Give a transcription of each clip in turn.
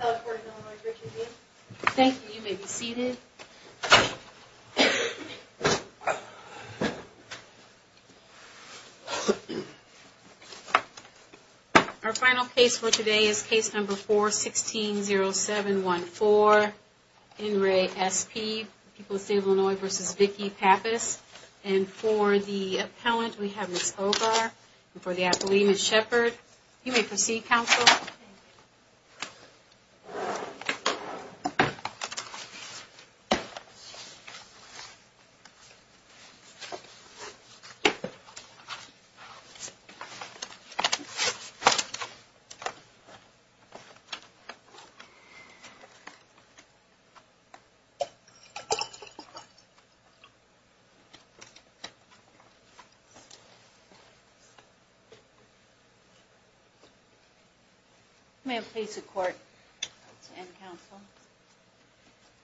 Illinois versus Vicky Pappas. And for the appellant, we have Ms. Obar, and for the appellee, Ms. Shepard. You may proceed, counsel.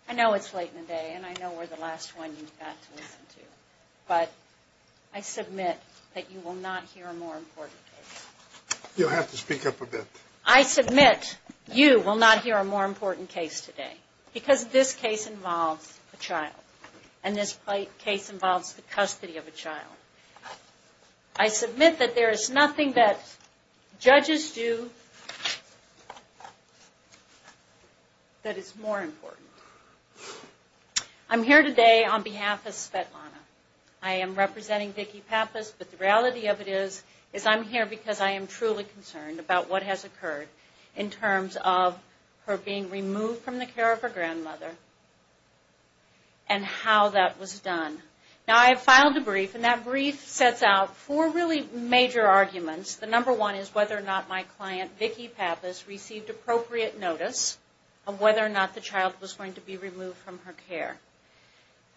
I know it's late in the day, and I know we're the last one you've got to listen to, but I submit that you will not hear a more important case. You'll have to speak up a bit. I submit you will not hear a more important case today, because this case involves a child, and this case involves the custody of a child. I submit that there is nothing that judges do that is more important. I'm here today on behalf of Svetlana. I am representing Vicky Pappas, but the reality of it is I'm here because I am truly concerned about what has occurred in terms of her being removed from the care of her grandmother and how that was done. Now, I have filed a brief, and that brief sets out four really major arguments. The number one is whether or not my client, Vicky Pappas, received appropriate notice of whether or not the child was going to be removed from her care.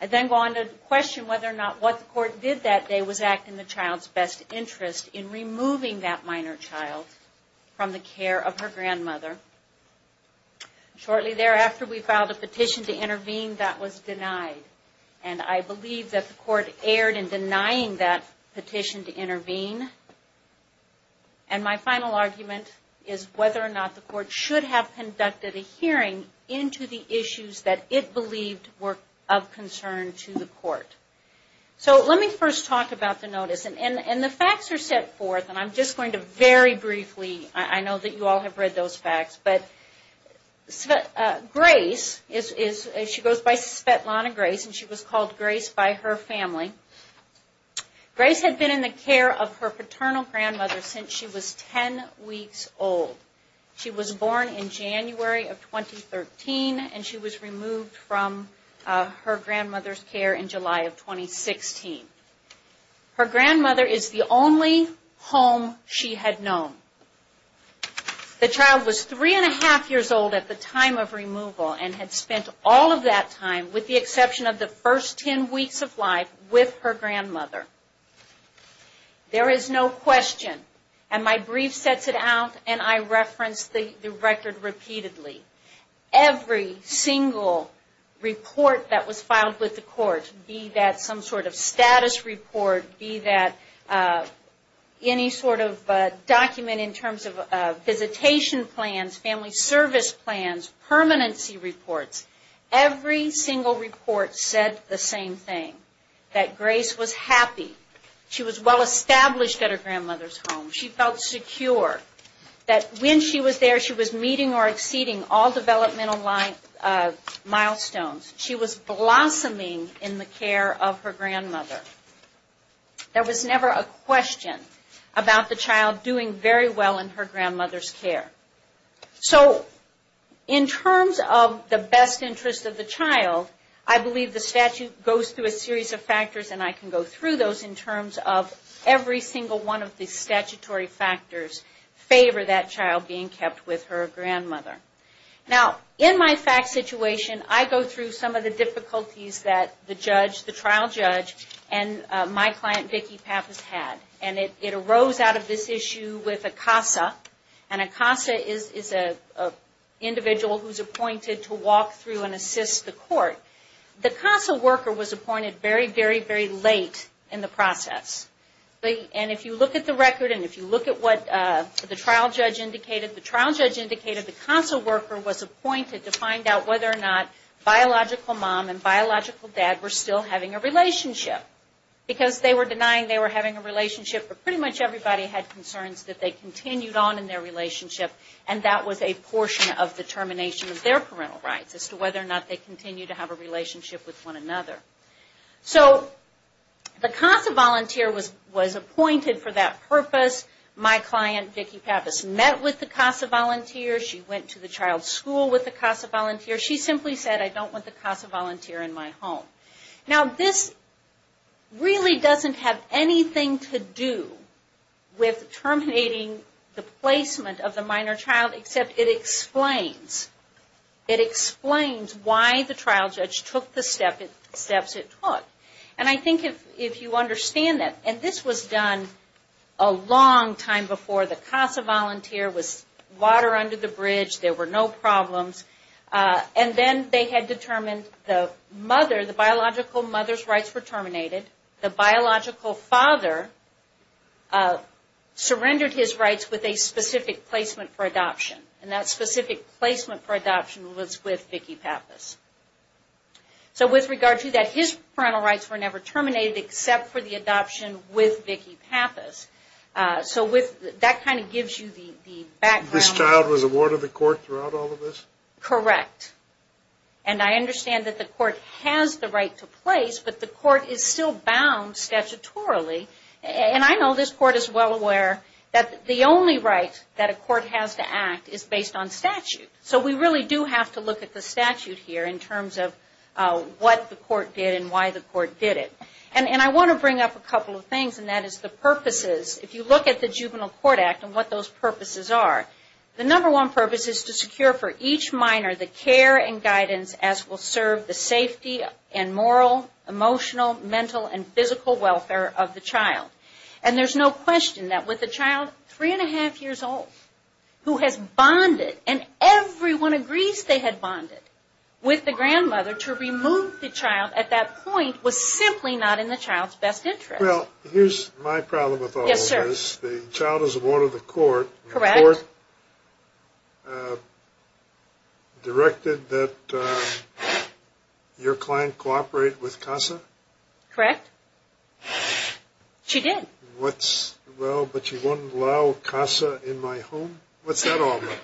I then go on to question whether or not what the court did that day was act in the child's best interest in removing that minor child from the care of her grandmother. Shortly thereafter, we filed a petition to intervene that was denied, and I believe that the court erred in denying that petition to intervene. My final argument is whether or not the court should have conducted a hearing into the issues that it believed were of concern to the court. Let me first talk about the notice. The facts are set forth, and I'm just going to very briefly, I know that you all have read those facts. Grace, she goes by Svetlana Grace, and she was called Grace by her family. Grace had been in the care of her paternal grandmother since she was 10 weeks old. She was born in January of 2013, and she was removed from her grandmother's care in July of 2016. Her grandmother is the only home she had known. The child was three and a half years old at the time of removal and had spent all of that time, with the exception of the first 10 weeks of life, with her grandmother. There is no question, and my brief sets it out, and I reference the record repeatedly. Every single report that was filed with the court, be that some sort of status report, be that any sort of document in terms of visitation plans, family service plans, permanency reports, every single report said the same thing, that Grace was happy. She was well established at her grandmother's home. She felt secure that when she was there, she was meeting or exceeding all developmental milestones. She was blossoming in the care of her grandmother. There was never a question about the child doing very well in her grandmother's care. So, in terms of the best interest of the child, I believe the statute goes through a series of factors, and I can go through those in terms of every single one of the statutory factors favor that child being kept with her grandmother. Now, in my fact situation, I go through some of the difficulties that the trial judge and my client, Vicki Pappas, had. And it arose out of this issue with a CASA, and a CASA is an individual who is appointed to walk through and assist the court. The CASA worker was appointed very, very, very late in the process. And if you look at the record, and if you look at what the trial judge indicated, the trial judge indicated the CASA worker was appointed to find out whether or not biological mom and biological dad were still having a relationship. Because they were denying they were having a relationship, but pretty much everybody had concerns that they continued on in their relationship, and that was a portion of the termination of their parental rights, as to whether or not they continued to have a relationship with one another. So, the CASA volunteer was appointed for that purpose. My client, Vicki Pappas, met with the CASA volunteer. She went to the child's school with the CASA volunteer. She simply said, I don't want the CASA volunteer in my home. Now, this really doesn't have anything to do with terminating the placement of the minor child, except it explains, it explains why the trial judge took the steps it took. And I think if you understand that, and this was done a long time before the CASA volunteer was water under the bridge, there were no problems, and then they had determined the mother, the biological mother's rights were terminated. The biological father surrendered his rights with a specific placement for adoption, and that specific placement for adoption was with Vicki Pappas. So, with regard to that, his parental rights were never terminated, except for the adoption with Vicki Pappas. So, that kind of gives you the background. This child was awarded the court throughout all of this? Correct. And I understand that the court has the right to place, but the court is still bound statutorily. And I know this court is well aware that the only right that a court has to act is based on statute. So, we really do have to look at the statute here in terms of what the court did and why the court did it. And I want to bring up a couple of things, and that is the purposes. If you look at the Juvenile Court Act and what those purposes are, the number one purpose is to secure for each minor the care and guidance as will serve the safety and moral, emotional, mental, and physical welfare of the child. And there's no question that with a child three and a half years old who has bonded, and everyone agrees they had bonded with the grandmother, to remove the child at that point was simply not in the child's best interest. Well, here's my problem with all of this. Yes, sir. The child is awarded the court. Correct. The court directed that your client cooperate with CASA? Correct. She did. Well, but you won't allow CASA in my home? What's that all about?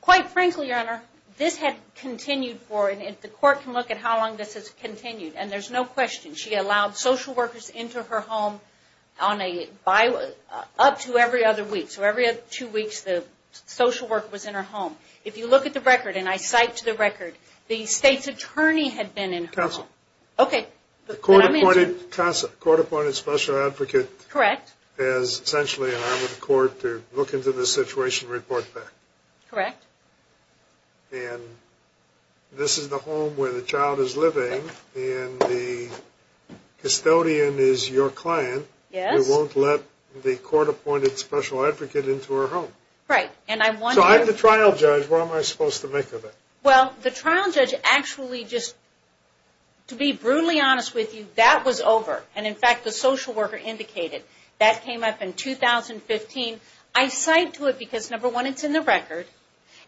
Quite frankly, Your Honor, this had continued for, and the court can look at how long this has continued, and there's no question. She allowed social workers into her home up to every other week. So every two weeks the social worker was in her home. If you look at the record, and I cite to the record, the state's attorney had been in her home. Counsel. Okay. The court-appointed special advocate has essentially allowed the court to look into the situation and report back. Correct. And this is the home where the child is living, and the custodian is your client. Yes. Who won't let the court-appointed special advocate into her home. Right. So I'm the trial judge. What am I supposed to make of it? Well, the trial judge actually just, to be brutally honest with you, that was over. And, in fact, the social worker indicated that came up in 2015. I cite to it because, number one, it's in the record,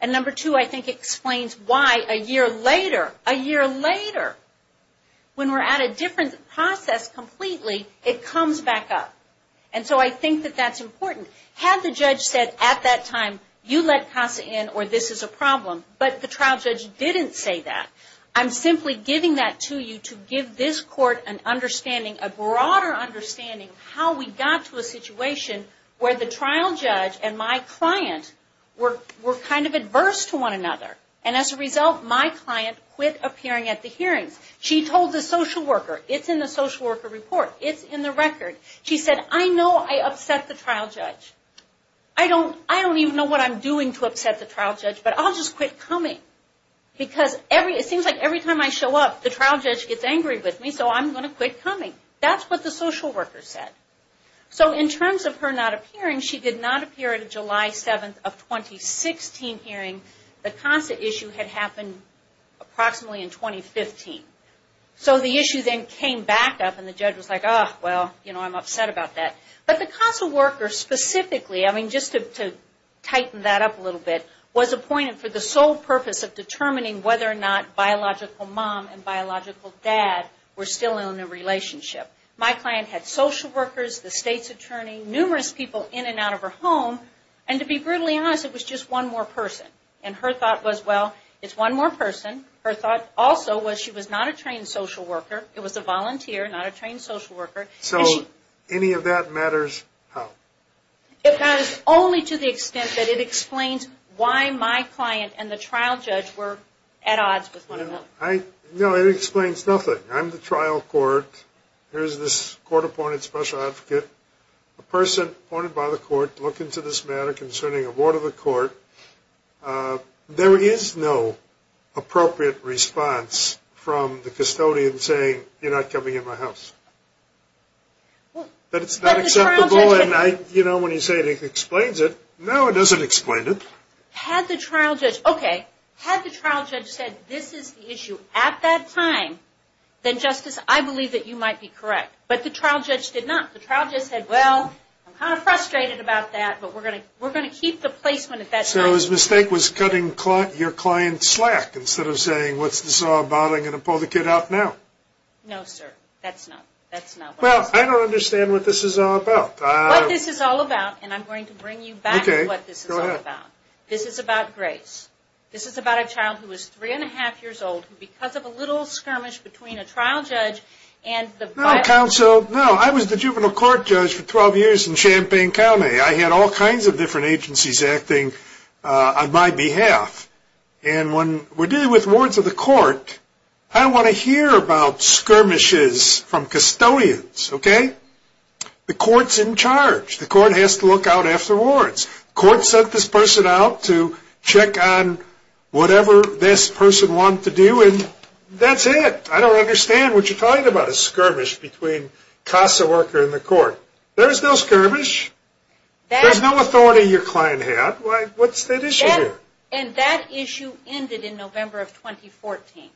and, number two, I think it explains why a year later, a year later, when we're at a different process completely, it comes back up. And so I think that that's important. Had the judge said at that time, you let Casa in or this is a problem, but the trial judge didn't say that, I'm simply giving that to you to give this court an understanding, a broader understanding, how we got to a situation where the trial judge and my client were kind of adverse to one another. And, as a result, my client quit appearing at the hearings. She told the social worker. It's in the social worker report. It's in the record. She said, I know I upset the trial judge. I don't even know what I'm doing to upset the trial judge, but I'll just quit coming. Because it seems like every time I show up, the trial judge gets angry with me, so I'm going to quit coming. That's what the social worker said. So in terms of her not appearing, she did not appear at a July 7th of 2016 hearing. The Casa issue had happened approximately in 2015. So the issue then came back up and the judge was like, oh, well, you know, I'm upset about that. But the Casa worker specifically, I mean, just to tighten that up a little bit, was appointed for the sole purpose of determining whether or not biological mom and biological dad were still in a relationship. My client had social workers, the state's attorney, numerous people in and out of her home, and to be brutally honest, it was just one more person. And her thought was, well, it's one more person. Her thought also was she was not a trained social worker. It was a volunteer, not a trained social worker. So any of that matters how? It matters only to the extent that it explains why my client and the trial judge were at odds with one another. No, it explains nothing. I'm the trial court. Here's this court-appointed special advocate, a person appointed by the court, looking to this matter concerning a board of the court. There is no appropriate response from the custodian saying, you're not coming in my house. But it's not acceptable. And, you know, when you say it explains it, no, it doesn't explain it. Had the trial judge, okay, had the trial judge said this is the issue at that time, then, Justice, I believe that you might be correct. But the trial judge did not. The trial judge said, well, I'm kind of frustrated about that, but we're going to keep the placement at that time. So his mistake was cutting your client slack instead of saying, what's this all about? I'm going to pull the kid out now. No, sir, that's not what I said. Well, I don't understand what this is all about. What this is all about, and I'm going to bring you back to what this is all about. Okay, go ahead. This is about Grace. This is about a child who was three-and-a-half years old who because of a little skirmish between a trial judge and the board. No, counsel, no. I was the juvenile court judge for 12 years in Champaign County. I had all kinds of different agencies acting on my behalf. And when we're dealing with wards of the court, I want to hear about skirmishes from custodians, okay? The court's in charge. The court has to look out after wards. The court sent this person out to check on whatever this person wanted to do, and that's it. I don't understand what you're talking about, a skirmish between CASA worker and the court. There's no skirmish. There's no authority your client had. What's that issue here? And that issue ended in November of 2014.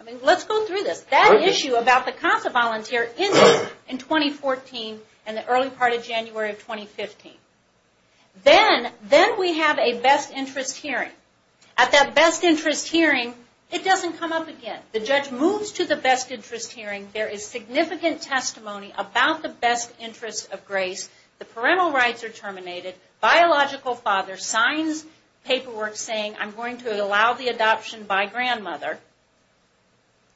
I mean, let's go through this. That issue about the CASA volunteer ended in 2014 in the early part of January of 2015. Then we have a best interest hearing. At that best interest hearing, it doesn't come up again. The judge moves to the best interest hearing. There is significant testimony about the best interest of Grace. The parental rights are terminated. Biological father signs paperwork saying, I'm going to allow the adoption by grandmother.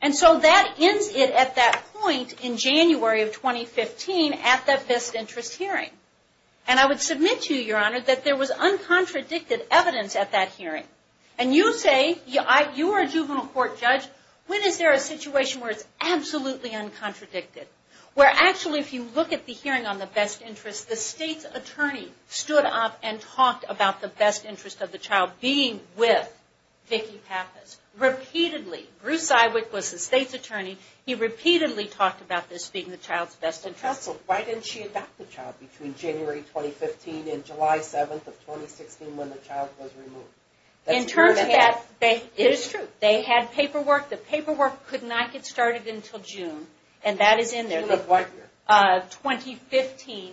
And so that ends it at that point in January of 2015 at that best interest hearing. And I would submit to you, Your Honor, that there was uncontradicted evidence at that hearing. And you say, you are a juvenile court judge. When is there a situation where it's absolutely uncontradicted? Where actually if you look at the hearing on the best interest, the state's attorney stood up and talked about the best interest of the child being with Vicki Pappas. Repeatedly. Bruce Iwick was the state's attorney. He repeatedly talked about this being the child's best interest. Counsel, why didn't she adopt the child between January 2015 and July 7th of 2016 when the child was removed? In terms of that, it is true. They had paperwork. The paperwork could not get started until June. And that is in there. June of what year? 2015.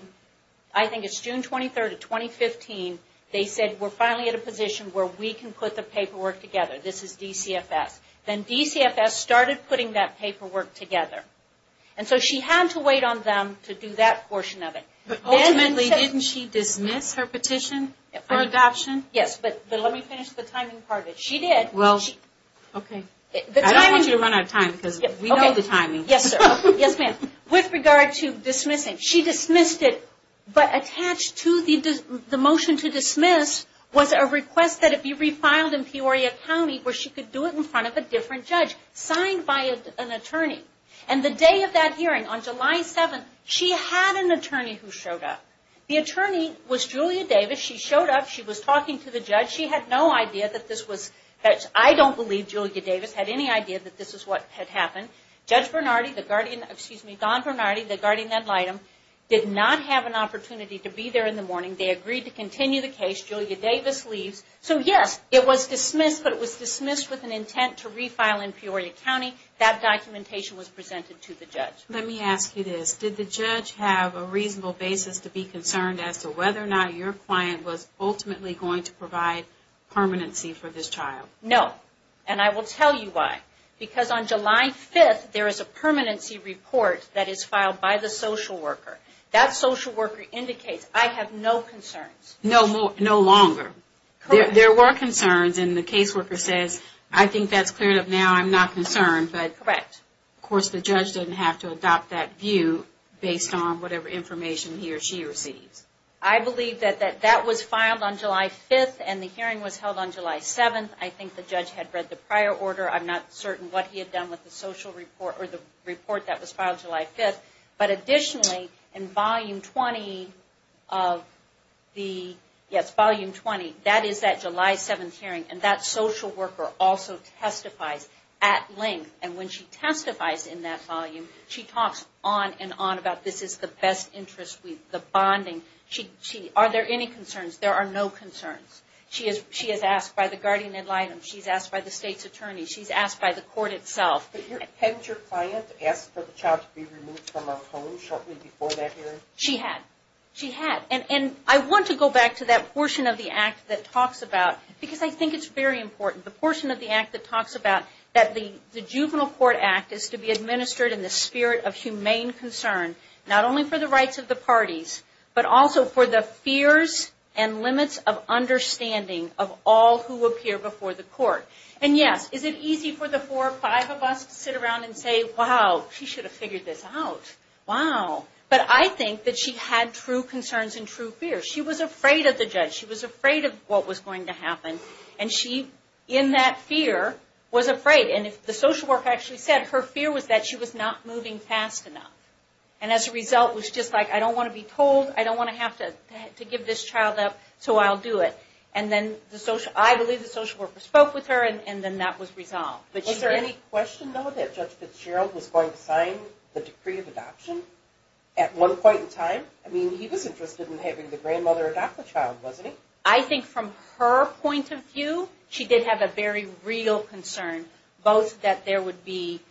I think it's June 23rd of 2015. They said, we're finally at a position where we can put the paperwork together. This is DCFS. Then DCFS started putting that paperwork together. And so she had to wait on them to do that portion of it. But ultimately, didn't she dismiss her petition for adoption? Yes, but let me finish the timing part. She did. Well, okay. I don't want you to run out of time because we know the timing. Yes, sir. Yes, ma'am. With regard to dismissing, she dismissed it. But attached to the motion to dismiss was a request that it be refiled in Peoria County where she could do it in front of a different judge, signed by an attorney. And the day of that hearing, on July 7th, she had an attorney who showed up. The attorney was Julia Davis. She showed up. She was talking to the judge. She had no idea that this was – I don't believe Julia Davis had any idea that this is what had happened. Judge Bernardi, excuse me, Don Bernardi, the guardian ad litem, did not have an opportunity to be there in the morning. They agreed to continue the case. Julia Davis leaves. So, yes, it was dismissed, but it was dismissed with an intent to refile in Peoria County. That documentation was presented to the judge. Let me ask you this. Did the judge have a reasonable basis to be concerned as to whether or not your client was ultimately going to provide permanency for this child? No. And I will tell you why. Because on July 5th, there is a permanency report that is filed by the social worker. That social worker indicates, I have no concerns. No longer. Correct. There were concerns, and the caseworker says, I think that's cleared up now. I'm not concerned. Correct. But, of course, the judge didn't have to adopt that view based on whatever information he or she receives. I believe that that was filed on July 5th, and the hearing was held on July 7th. I think the judge had read the prior order. I'm not certain what he had done with the report that was filed July 5th. But, additionally, in Volume 20, that is that July 7th hearing, and that social worker also testifies at length. And when she testifies in that volume, she talks on and on about this is the best interest, the bonding. Are there any concerns? There are no concerns. She is asked by the guardian ad litem. She is asked by the state's attorney. She is asked by the court itself. Hadn't your client asked for the child to be removed from her home shortly before that hearing? She had. She had. And I want to go back to that portion of the act that talks about, because I think it's very important, the portion of the act that talks about that the juvenile court act is to be administered in the spirit of humane concern, not only for the rights of the parties, but also for the fears and limits of understanding of all who appear before the court. And, yes, is it easy for the four or five of us to sit around and say, wow, she should have figured this out. Wow. But I think that she had true concerns and true fears. She was afraid of the judge. She was afraid of what was going to happen. And she, in that fear, was afraid. And the social worker actually said her fear was that she was not moving fast enough. And as a result, it was just like, I don't want to be told. I don't want to have to give this child up, so I'll do it. And then I believe the social worker spoke with her, and then that was resolved. Is there any question, though, that Judge Fitzgerald was going to sign the decree of adoption at one point in time? I mean, he was interested in having the grandmother adopt the child, wasn't he? I think from her point of view, she did have a very real concern, both that there would be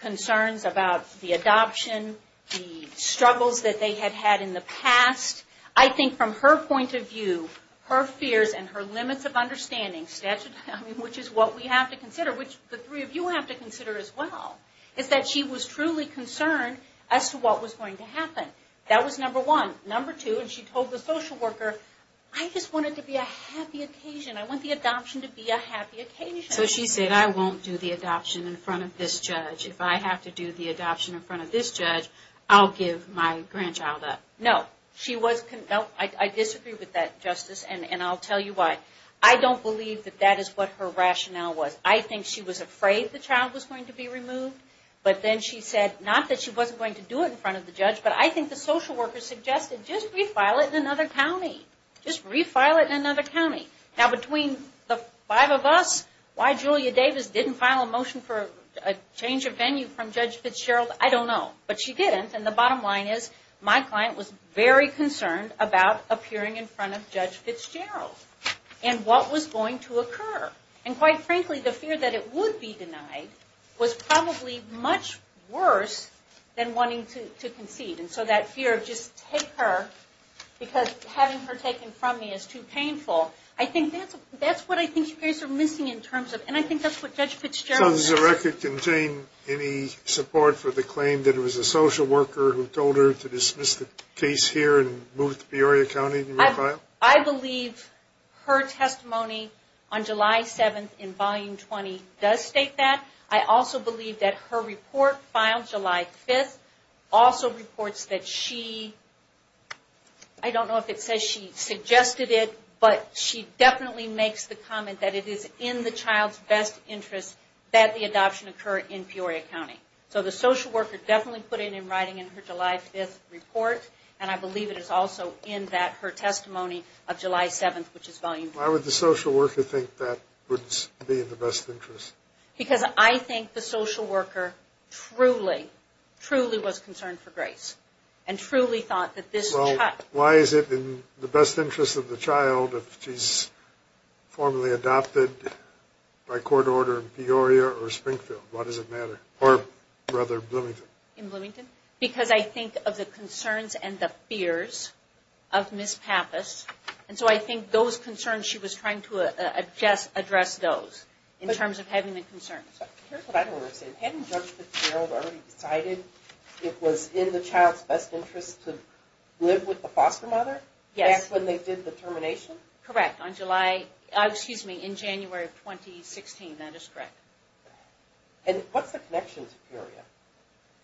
concerns about the adoption, the struggles that they had had in the past. I think from her point of view, her fears and her limits of understanding, which is what we have to consider, which the three of you have to consider as well, is that she was truly concerned as to what was going to happen. That was number one. Number two, and she told the social worker, I just want it to be a happy occasion. I want the adoption to be a happy occasion. So she said, I won't do the adoption in front of this judge. If I have to do the adoption in front of this judge, I'll give my grandchild up. No. I disagree with that, Justice, and I'll tell you why. I don't believe that that is what her rationale was. I think she was afraid the child was going to be removed, but then she said, not that she wasn't going to do it in front of the judge, but I think the social worker suggested, just refile it in another county. Just refile it in another county. Now, between the five of us, why Julia Davis didn't file a motion for a change of venue from Judge Fitzgerald, I don't know, but she didn't, and the bottom line is, my client was very concerned about appearing in front of Judge Fitzgerald and what was going to occur. And quite frankly, the fear that it would be denied was probably much worse than wanting to concede. And so that fear of just take her because having her taken from me is too painful, I think that's what I think you guys are missing in terms of, and I think that's what Judge Fitzgerald has. So does the record contain any support for the claim that it was a social worker who told her to dismiss the case here and move it to Peoria County and refile? I believe her testimony on July 7th in Volume 20 does state that. I also believe that her report filed July 5th also reports that she, I don't know if it says she suggested it, but she definitely makes the comment that it is in the child's best interest that the adoption occur in Peoria County. So the social worker definitely put it in writing in her July 5th report, and I believe it is also in that her testimony of July 7th, which is Volume 20. Why would the social worker think that would be in the best interest? Because I think the social worker truly, truly was concerned for Grace and truly thought that this child... Well, why is it in the best interest of the child if she's formally adopted by court order in Peoria or Springfield? Why does it matter? Or rather Bloomington? In Bloomington? Because I think of the concerns and the fears of Ms. Pappas, and so I think those concerns she was trying to address those in terms of having the concerns. Here's what I don't understand. Hadn't Judge Fitzgerald already decided it was in the child's best interest to live with the foster mother? Yes. Back when they did the termination? Correct, on July, excuse me, in January of 2016, that is correct. And what's the connection to Peoria?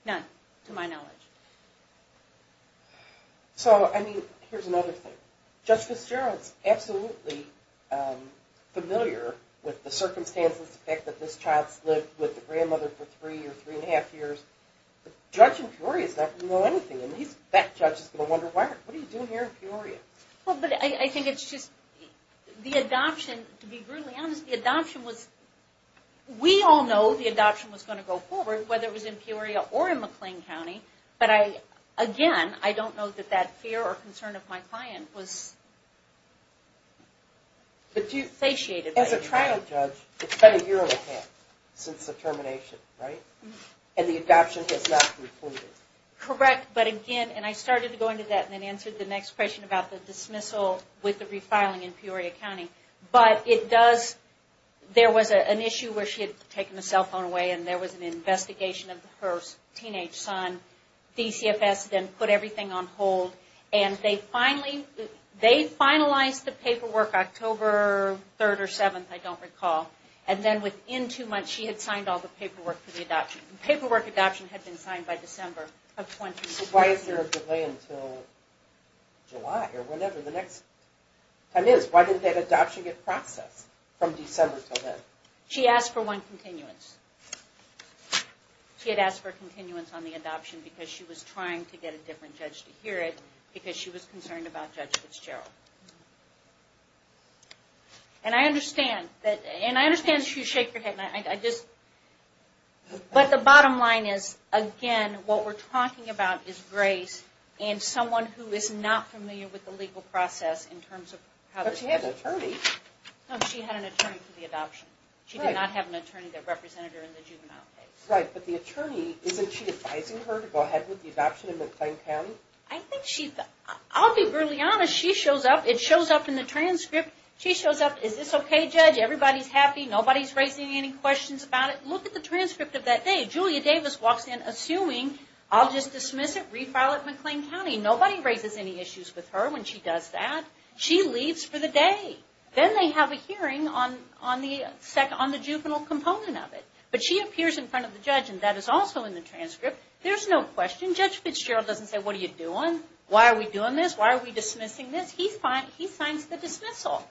None, to my knowledge. So, I mean, here's another thing. Judge Fitzgerald's absolutely familiar with the circumstances, the fact that this child's lived with the grandmother for three or three and a half years. The judge in Peoria's not going to know anything, and that judge is going to wonder, what are you doing here in Peoria? Well, but I think it's just the adoption, to be brutally honest, the adoption was... We all know the adoption was going to go forward, whether it was in Peoria or in McLean County, but again, I don't know that that fear or concern of my client was satiated. As a trial judge, it's been a year and a half since the termination, right? And the adoption has not concluded. Correct, but again, and I started to go into that and then answered the next question about the dismissal with the refiling in Peoria County, but it does, there was an issue where she had taken the cell phone away and there was an investigation of her teenage son. DCFS then put everything on hold, and they finally, they finalized the paperwork October 3rd or 7th, I don't recall, and then within two months she had signed all the paperwork for the adoption. The paperwork adoption had been signed by December of 2014. So why is there a delay until July or whenever the next time is? Why didn't that adoption get processed from December until then? She asked for one continuance. She had asked for a continuance on the adoption because she was trying to get a different judge to hear it, because she was concerned about Judge Fitzgerald. And I understand that, and I understand that you shake your head, and I just... But the bottom line is, again, what we're talking about is Grace and someone who is not familiar with the legal process in terms of... But she had an attorney. No, she had an attorney for the adoption. She did not have an attorney that represented her in the juvenile case. Right, but the attorney, isn't she advising her to go ahead with the adoption in McLean County? I think she, I'll be brutally honest, she shows up, it shows up in the transcript, she shows up, is this okay, Judge, everybody's happy, nobody's raising any questions about it? Look at the transcript of that day. Julia Davis walks in assuming, I'll just dismiss it, refile it in McLean County. Nobody raises any issues with her when she does that. She leaves for the day. Then they have a hearing on the juvenile component of it. But she appears in front of the judge, and that is also in the transcript. There's no question. Judge Fitzgerald doesn't say, what are you doing? Why are we doing this? Why are we dismissing this? He signs the dismissal.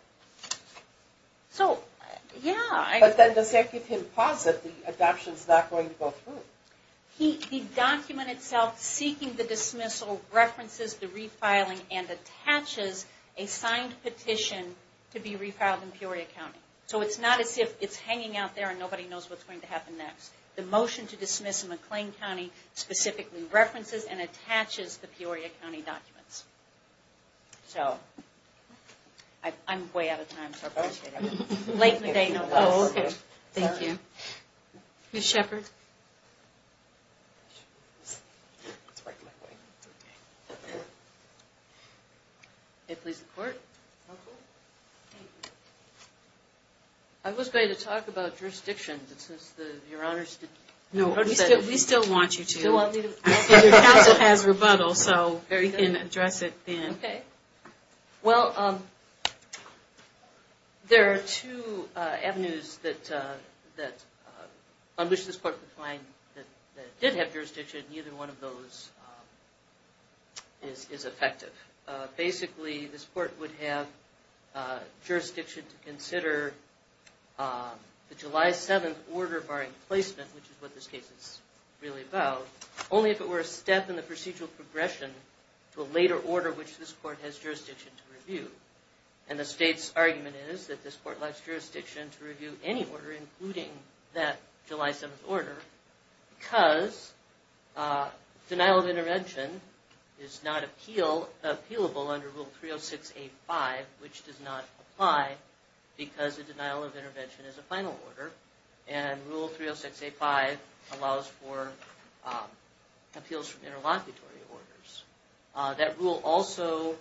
So, yeah. But then does that give him pause that the adoption's not going to go through? The document itself seeking the dismissal references the refiling and attaches a signed petition to be refiled in Peoria County. So it's not as if it's hanging out there and nobody knows what's going to happen next. The motion to dismiss in McLean County specifically references and attaches the Peoria County documents. So, I'm way out of time, so I appreciate it. Late in the day, no questions. Thank you. Ms. Shepard. May it please the Court. I was going to talk about jurisdiction, but since Your Honors didn't. No, we still want you to. Your counsel has rebuttal, so you can address it then. Okay. Well, there are two avenues on which this Court could find that did have jurisdiction. Neither one of those is effective. Basically, this Court would have jurisdiction to consider the July 7th order barring placement, which is what this case is really about, only if it were a step in the procedural progression to a later order which this Court has jurisdiction to review. And the State's argument is that this Court has jurisdiction to review any order, including that July 7th order, because denial of intervention is not appealable under Rule 306A-5, which does not apply because a denial of intervention is a final order. And Rule 306A-5 allows for appeals from interlocutory orders. That rule also,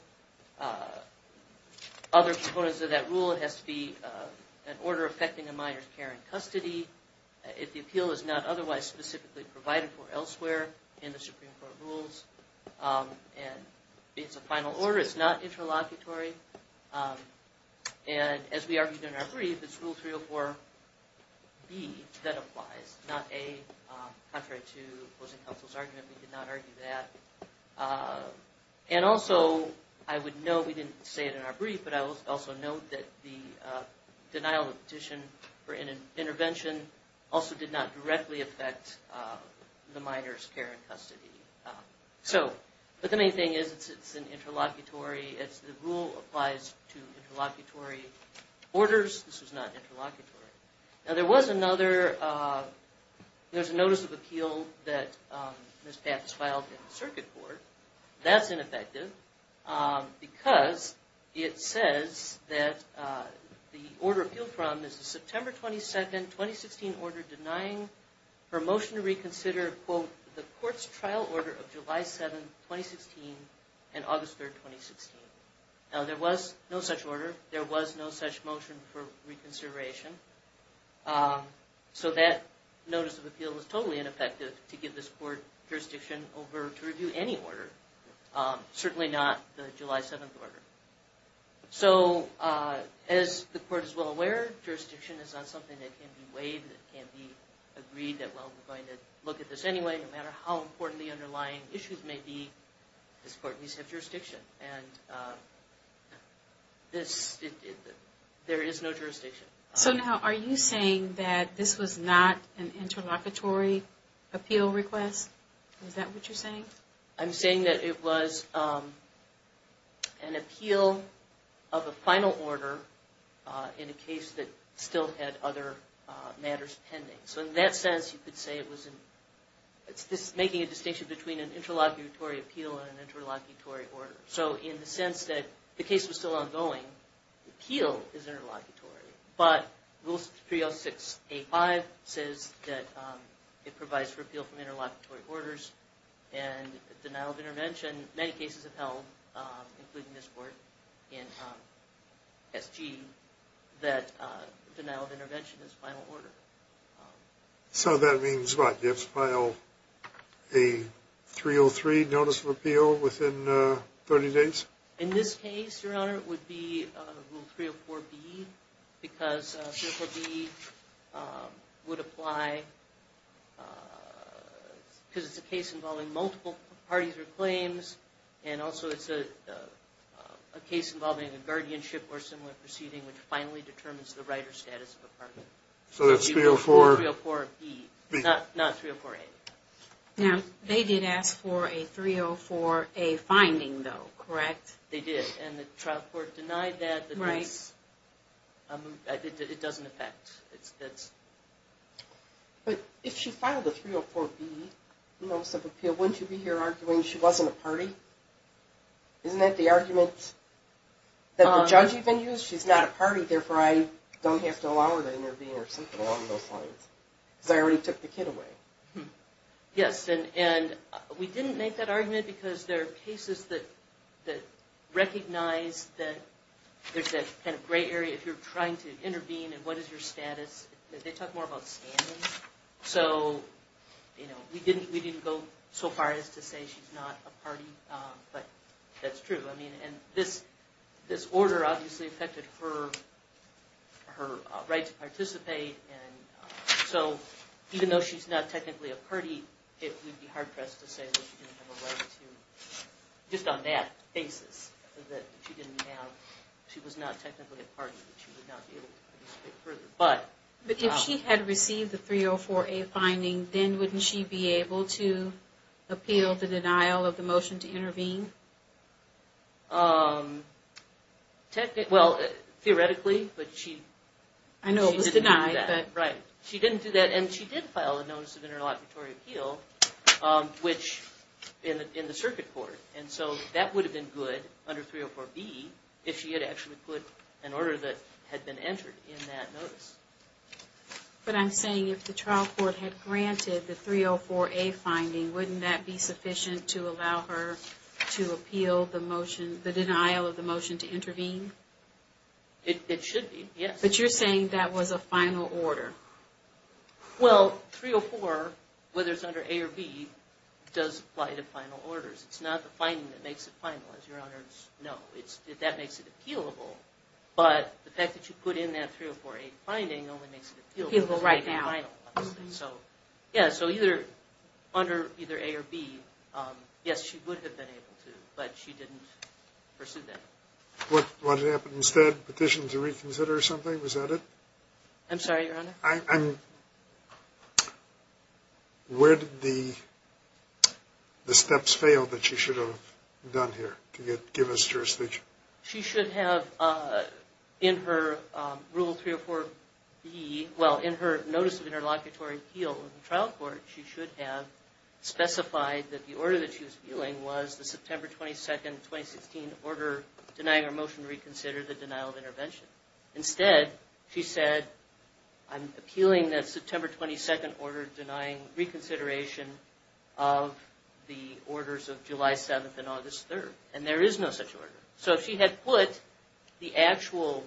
other components of that rule, it has to be an order affecting a minor's care and custody. If the appeal is not otherwise specifically provided for elsewhere in the Supreme Court rules, and it's a final order, it's not interlocutory. And as we argued in our brief, it's Rule 304B that applies, not A, contrary to opposing counsel's argument, we did not argue that. And also, I would note, we didn't say it in our brief, but I would also note that the denial of petition for intervention also did not directly affect the minor's care and custody. So, but the main thing is it's an interlocutory, it's the rule applies to interlocutory orders, this was not interlocutory. Now there was another, there's a notice of appeal that Ms. Papp has filed in the Circuit Court. That's ineffective because it says that the order appealed from is the September 22nd, 2016 order denying her motion to reconsider, quote, the court's trial order of July 7th, 2016 and August 3rd, 2016. Now there was no such order, there was no such motion for reconsideration, so that notice of appeal is totally ineffective to give this court jurisdiction over to review any order, certainly not the July 7th order. So, as the court is well aware, jurisdiction is not something that can be weighed, it can't be agreed that, well, we're going to look at this anyway, no matter how important the underlying issues may be, this court needs to have jurisdiction. And this, there is no jurisdiction. So now, are you saying that this was not an interlocutory appeal request? Is that what you're saying? I'm saying that it was an appeal of a final order in a case that still had other matters pending. So in that sense, you could say it was making a distinction between an interlocutory appeal and an interlocutory order. So in the sense that the case was still ongoing, the appeal is interlocutory, but Rule 606.A.5 says that it provides for appeal from interlocutory orders and denial of intervention, many cases have held, including this court in SG, that denial of intervention is final order. So that means, what, you have to file a 303 notice of appeal within 30 days? In this case, Your Honor, it would be Rule 304.B, because 304.B would apply, because it's a case involving multiple parties or claims, and also it's a case involving a guardianship or similar proceeding, which finally determines the right or status of a party. So that's 304? 304.B, not 304.A. Now, they did ask for a 304.A. finding, though, correct? They did, and the trial court denied that. It doesn't affect. But if she filed a 304.B notice of appeal, wouldn't you be here arguing she wasn't a party? Isn't that the argument that the judge even used? She's not a party, therefore I don't have to allow her to intervene or something along those lines, because I already took the kid away. Yes, and we didn't make that argument because there are cases that recognize that there's that kind of gray area, if you're trying to intervene and what is your status. They talk more about stand-ins. So, you know, we didn't go so far as to say she's not a party, but that's true. I mean, and this order obviously affected her right to participate, and so even though she's not technically a party, it would be hard-pressed to say that she didn't have a right to, just on that basis, that she didn't have, she was not technically a party, that she would not be able to participate further. But if she had received the 304.A. finding, then wouldn't she be able to appeal the denial of the motion to intervene? Technically, well, theoretically, but she didn't do that. I know it was denied, but... Right, she didn't do that, and she did file a notice of interlocutory appeal, which, in the circuit court, and so that would have been good under 304.B if she had actually put an order that had been entered in that notice. But I'm saying if the trial court had granted the 304.A. finding, wouldn't that be sufficient to allow her to appeal the motion, the denial of the motion to intervene? It should be, yes. But you're saying that was a final order. Well, 304, whether it's under A or B, does apply to final orders. It's not the finding that makes it final, as Your Honors know. That makes it appealable, but the fact that you put in that 304.A. finding only makes it appealable right now. Yeah, so under either A or B, yes, she would have been able to, but she didn't pursue that. What happened instead? Petition to reconsider something? Was that it? I'm sorry, Your Honor? Where did the steps fail that she should have done here to give us jurisdiction? She should have, in her rule 304.B, well, in her notice of interlocutory appeal in the trial court, she should have specified that the order that she was appealing was the September 22, 2016, order denying her motion to reconsider the denial of intervention. Instead, she said, I'm appealing that September 22 order denying reconsideration of the orders of July 7 and August 3. And there is no such order. So if she had put the actual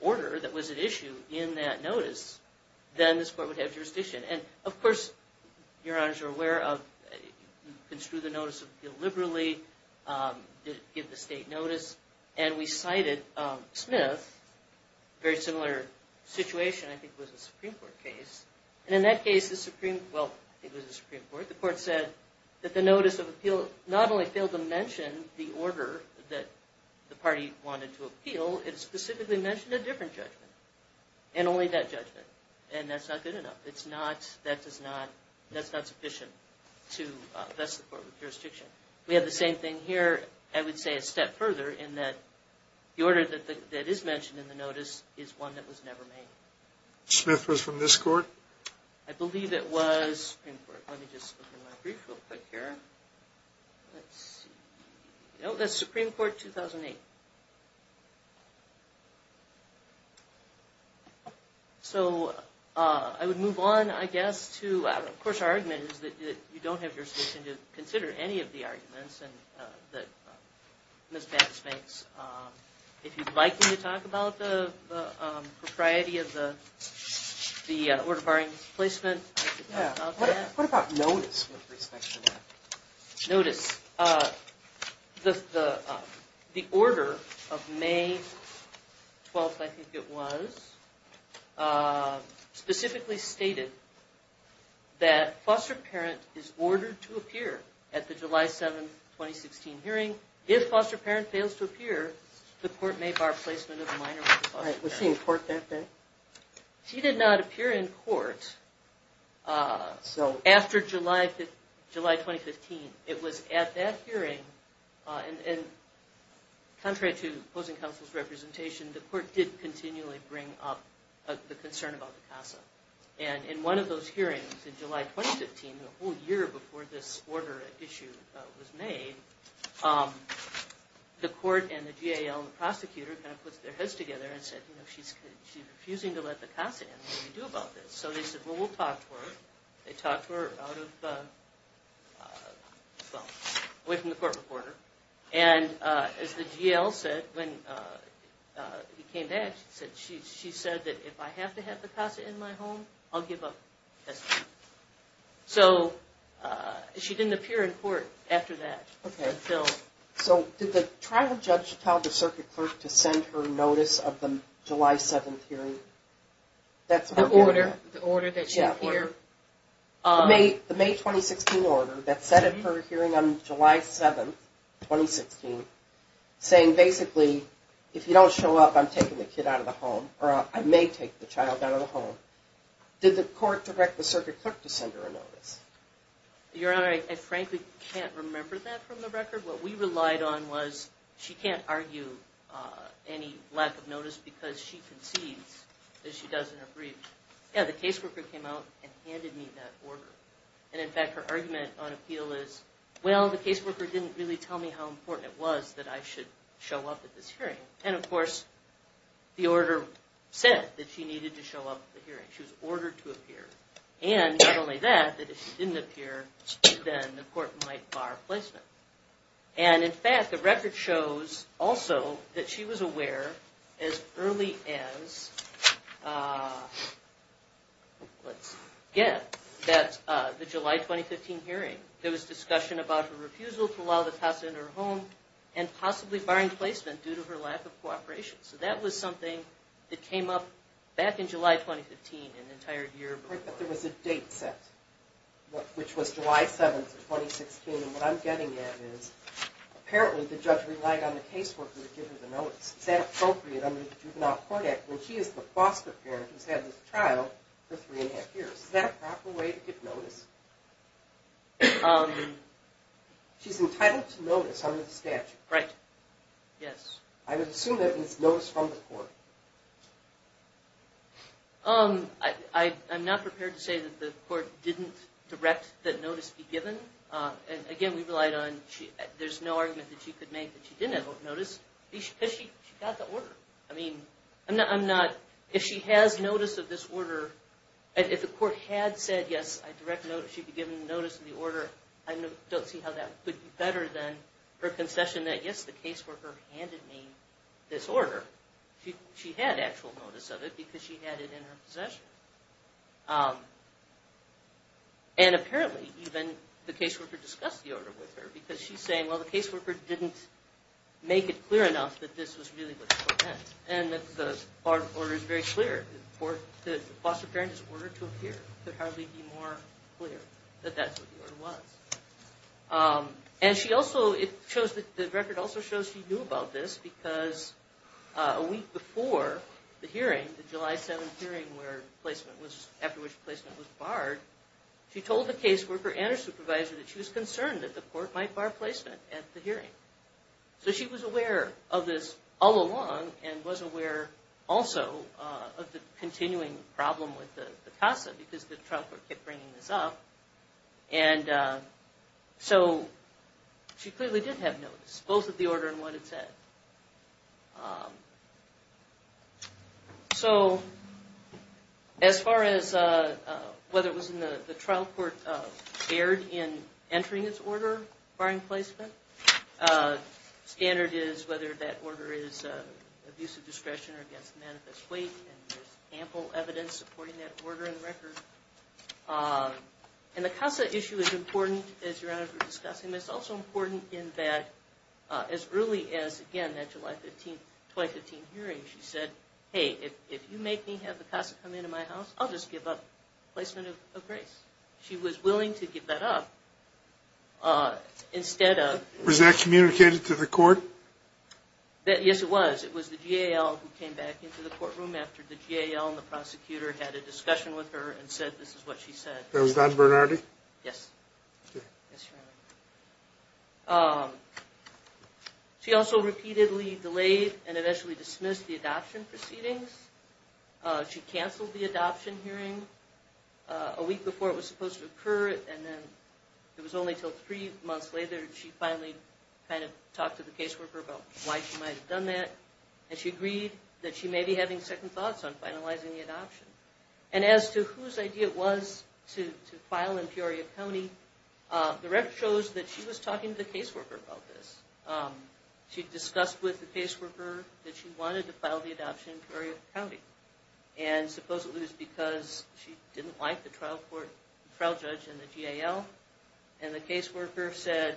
order that was at issue in that notice, then this court would have jurisdiction. And of course, Your Honors are aware of, construe the notice of appeal liberally, give the state notice, and we cited Smith, very similar situation, I think it was a Supreme Court case. And in that case, the Supreme, well, I think it was the Supreme Court, the court said that the notice of appeal not only failed to mention the order that the party wanted to appeal, it specifically mentioned a different judgment, and only that judgment. And that's not good enough. It's not, that does not, that's not sufficient to vest the court with jurisdiction. We have the same thing here, I would say a step further, in that the order that is mentioned in the notice is one that was never made. Smith was from this court? I believe it was Supreme Court. Let me just open my brief real quick here. Let's see. No, that's Supreme Court 2008. So I would move on, I guess, to, of course, our argument is that you don't have jurisdiction to consider any of the arguments that Ms. Mattis makes. If you'd like me to talk about the propriety of the order barring placement, I could talk about that. What about notice with respect to that? Notice. The order of May 12th, I think it was, specifically stated that foster parent is ordered to appear at the July 7, 2016 hearing. If foster parent fails to appear, the court may bar placement of a minor. Was she in court that day? She did not appear in court. After July 2015, it was at that hearing, and contrary to opposing counsel's representation, the court did continually bring up the concern about the CASA. And in one of those hearings in July 2015, the whole year before this order issue was made, the court and the GAL and the prosecutor kind of put their heads together and said, you know, she's refusing to let the CASA in. What do we do about this? So they said, well, we'll talk to her. They talked to her out of, well, away from the court recorder. And as the GAL said when he came back, she said that if I have to have the CASA in my home, I'll give up custody. So she didn't appear in court after that. So did the trial judge tell the circuit clerk to send her notice of the July 7 hearing? The order that she appeared? The May 2016 order that set up her hearing on July 7, 2016, saying basically, if you don't show up, I'm taking the kid out of the home, or I may take the child out of the home. Did the court direct the circuit clerk to send her a notice? Your Honor, I frankly can't remember that from the record. What we relied on was she can't argue any lack of notice because she concedes that she doesn't agree. Yeah, the caseworker came out and handed me that order. And in fact, her argument on appeal is, well, the caseworker didn't really tell me how important it was that I should show up at this hearing. And of course, the order said that she needed to show up at the hearing. She was ordered to appear. And not only that, that if she didn't appear, then the court might bar placement. And in fact, the record shows also that she was aware as early as, let's get it, the July 2015 hearing. There was discussion about her refusal to allow the passenger in her home and possibly barring placement due to her lack of cooperation. So that was something that came up back in July 2015 and the entire year before. But there was a date set, which was July 7th of 2016. And what I'm getting at is apparently the judge relied on the caseworker to give her the notice. Is that appropriate under the Juvenile Court Act when she is the foster parent who's had this trial for three and a half years? Is that a proper way to give notice? She's entitled to notice under the statute. Right. Yes. I would assume that it's notice from the court. I'm not prepared to say that the court didn't direct that notice be given. Again, we relied on there's no argument that she could make that she didn't have notice because she got the order. I mean, I'm not – if she has notice of this order, if the court had said, yes, I direct that she be given notice of the order, I don't see how that would be better than her concession that, yes, the caseworker handed me this order. She had actual notice of it because she had it in her possession. And apparently even the caseworker discussed the order with her because she's saying, well, the caseworker didn't make it clear enough that this was really what the court meant And she also – it shows that – the record also shows she knew about this because a week before the hearing, the July 7th hearing where placement was – after which placement was barred, she told the caseworker and her supervisor that she was concerned that the court might bar placement at the hearing. So she was aware of this all along and was aware also of the continuing problem with the CASA because the trial court kept bringing this up. And so she clearly did have notice, both of the order and what it said. So as far as whether it was in the – the trial court erred in entering its order barring placement, standard is whether that order is abuse of discretion or against manifest weight, and there's ample evidence supporting that order in the record. And the CASA issue is important, as Your Honor is discussing, but it's also important in that as early as, again, that July 15th – July 15th hearing, she said, hey, if you make me have the CASA come into my house, I'll just give up placement of grace. She was willing to give that up instead of – Was that communicated to the court? Yes, it was. It was the GAL who came back into the courtroom after the GAL and the prosecutor had a discussion with her and said this is what she said. Was that Bernardi? Yes. Yes, Your Honor. She also repeatedly delayed and eventually dismissed the adoption proceedings. She canceled the adoption hearing a week before it was supposed to occur, and then it was only until three months later that she finally kind of talked to the caseworker about why she might have done that, and she agreed that she may be having second thoughts on finalizing the adoption. And as to whose idea it was to file in Peoria County, the record shows that she was talking to the caseworker about this. She discussed with the caseworker that she wanted to file the adoption in Peoria County, and supposedly it was because she didn't like the trial judge and the GAL, and the caseworker said,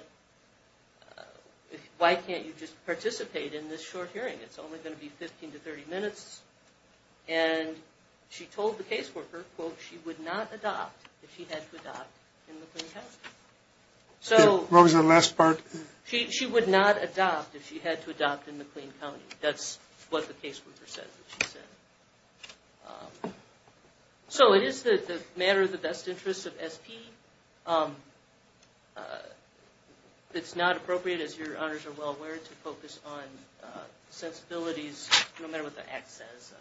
why can't you just participate in this short hearing? It's only going to be 15 to 30 minutes. And she told the caseworker, quote, she would not adopt if she had to adopt in McLean County. What was the last part? She would not adopt if she had to adopt in McLean County. That's what the caseworker said that she said. So it is the matter of the best interest of SP. It's not appropriate, as your honors are well aware, to focus on sensibilities, no matter what the act says.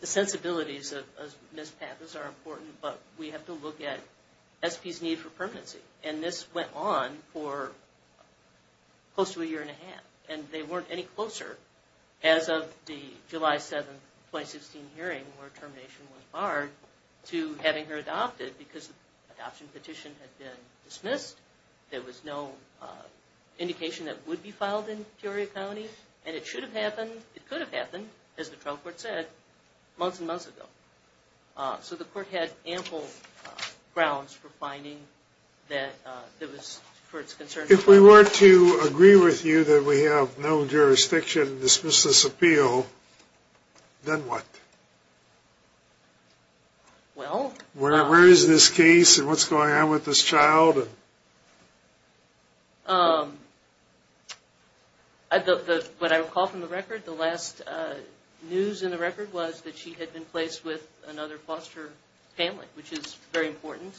The sensibilities of Ms. Pappas are important, but we have to look at SP's need for permanency, and this went on for close to a year and a half, and they weren't any closer, as of the July 7, 2016 hearing where termination was barred, to having her adopted because the adoption petition had been dismissed. There was no indication that would be filed in Peoria County, and it should have happened, it could have happened, as the trial court said, months and months ago. So the court had ample grounds for finding that there was, for its concerns. If we were to agree with you that we have no jurisdiction to dismiss this appeal, then what? Where is this case, and what's going on with this child? What I recall from the record, the last news in the record was that she had been placed with another foster family, which is very important,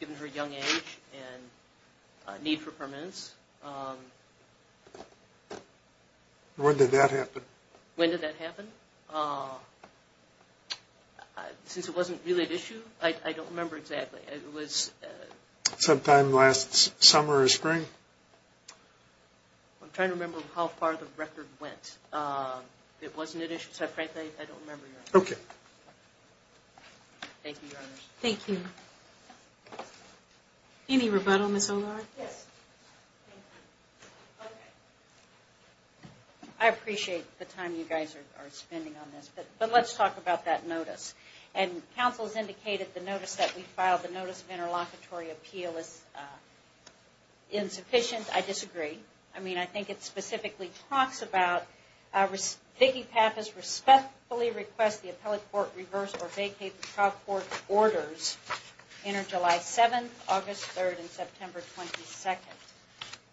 given her young age and need for permanence. When did that happen? When did that happen? Since it wasn't really an issue, I don't remember exactly. Sometime last summer or spring? I'm trying to remember how far the record went. It wasn't an issue, so frankly I don't remember. Okay. Thank you, Your Honor. Thank you. Any rebuttal, Ms. O'Leary? Yes. I appreciate the time you guys are spending on this, but let's talk about that notice. And counsel has indicated the notice that we filed, the notice of interlocutory appeal, is insufficient. I disagree. I mean, I think it specifically talks about, Vicki Pappas respectfully requests the appellate court reverse or vacate the trial court's orders enter July 7th, August 3rd, and September 22nd,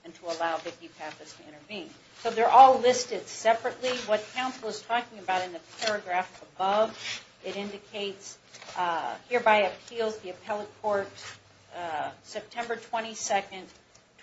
and to allow Vicki Pappas to intervene. So they're all listed separately. What counsel is talking about in the paragraph above, it indicates, hereby appeals the appellate court's September 22nd,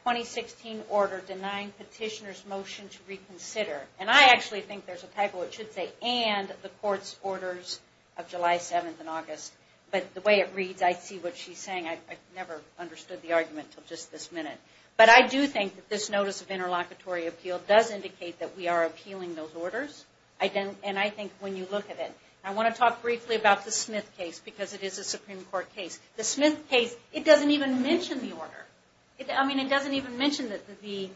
2016 order denying petitioner's motion to reconsider. And I actually think there's a typo, it should say, and the court's orders of July 7th and August. But the way it reads, I see what she's saying. I never understood the argument until just this minute. But I do think that this notice of interlocutory appeal does indicate that we are appealing those orders. And I think when you look at it. I want to talk briefly about the Smith case, because it is a Supreme Court case. The Smith case, it doesn't even mention the order. I mean, it doesn't even mention the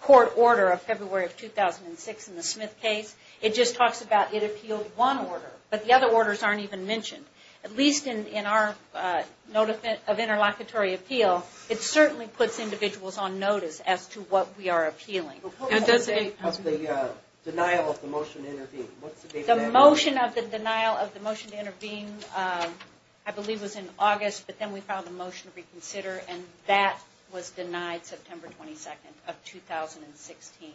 court order of February of 2006 in the Smith case. It just talks about it appealed one order, but the other orders aren't even mentioned. At least in our notice of interlocutory appeal, it certainly puts individuals on notice as to what we are appealing. What was the date of the denial of the motion to intervene? The motion of the denial of the motion to intervene, I believe, was in August. But then we filed a motion to reconsider, and that was denied September 22nd of 2016.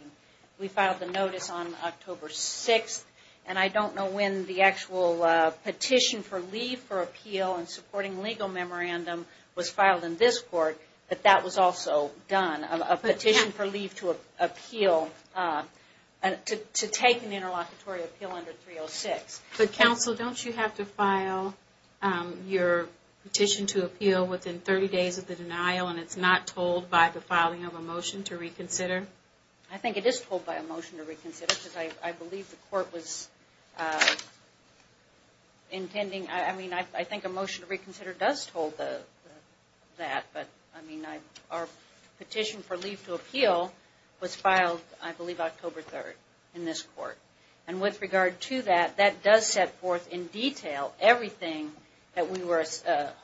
We filed the notice on October 6th, and I don't know when the actual petition for leave for appeal and supporting legal memorandum was filed in this court, but that was also done. A petition for leave to appeal, to take an interlocutory appeal under 306. But counsel, don't you have to file your petition to appeal within 30 days of the denial, and it's not told by the filing of a motion to reconsider? I think it is told by a motion to reconsider, because I believe the court was intending. I think a motion to reconsider does hold that, but our petition for leave to appeal was filed, I believe, October 3rd in this court. And with regard to that, that does set forth in detail everything that we were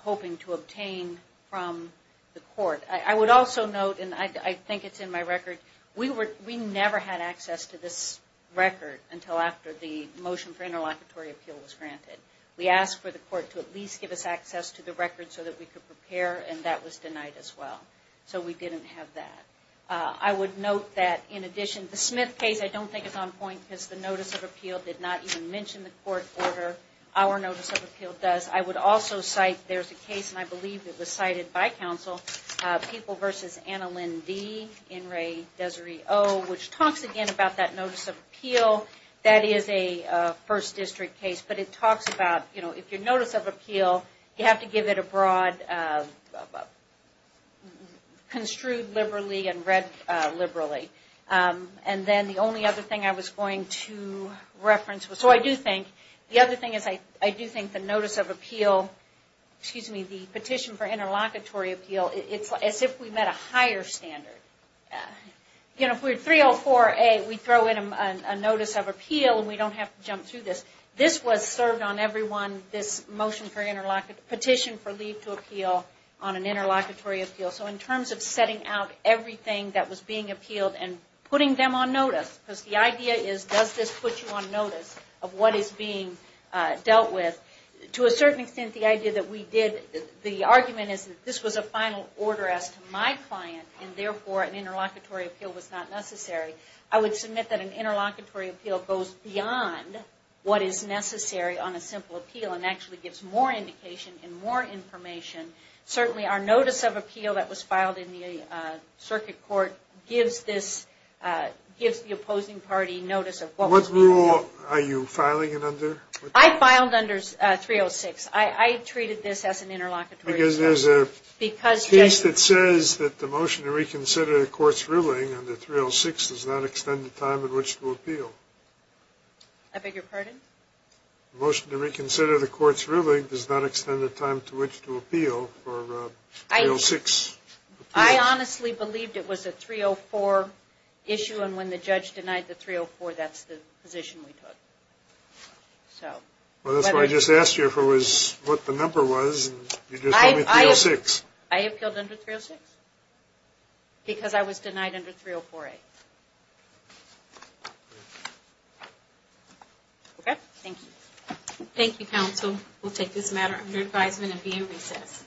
hoping to obtain from the court. I would also note, and I think it's in my record, we never had access to this record until after the motion for interlocutory appeal was granted. We asked for the court to at least give us access to the record so that we could prepare, and that was denied as well. So we didn't have that. I would note that, in addition, the Smith case, I don't think it's on point, because the notice of appeal did not even mention the court order. Our notice of appeal does. I would also cite, there's a case, and I believe it was cited by counsel, People v. Anna Lynn D., In re Desiree O., which talks again about that notice of appeal. That is a first district case, but it talks about, you know, if your notice of appeal, you have to give it a broad, construed liberally and read liberally. And then the only other thing I was going to reference was, so I do think, the other thing is I do think the notice of appeal, excuse me, the petition for interlocutory appeal, it's as if we met a higher standard. You know, if we're 304A, we throw in a notice of appeal and we don't have to jump through this. This was served on everyone, this petition for leave to appeal on an interlocutory appeal. So in terms of setting out everything that was being appealed and putting them on notice, because the idea is, does this put you on notice of what is being dealt with? To a certain extent, the idea that we did, the argument is that this was a final order as to my client, and therefore an interlocutory appeal was not necessary. I would submit that an interlocutory appeal goes beyond what is necessary on a simple appeal and actually gives more indication and more information. Certainly our notice of appeal that was filed in the circuit court gives this, gives the opposing party notice of what was being appealed. What rule are you filing it under? I filed under 306. I treated this as an interlocutory appeal. Because there's a piece that says that the motion to reconsider the court's ruling under 306 does not extend the time in which to appeal. I beg your pardon? The motion to reconsider the court's ruling does not extend the time to which to appeal for 306. I honestly believed it was a 304 issue, and when the judge denied the 304, that's the position we took. Well, that's why I just asked you what the number was, and you just told me 306. I appealed under 306 because I was denied under 304A. Okay, thank you. Thank you, counsel. We'll take this matter under advisement and be in recess.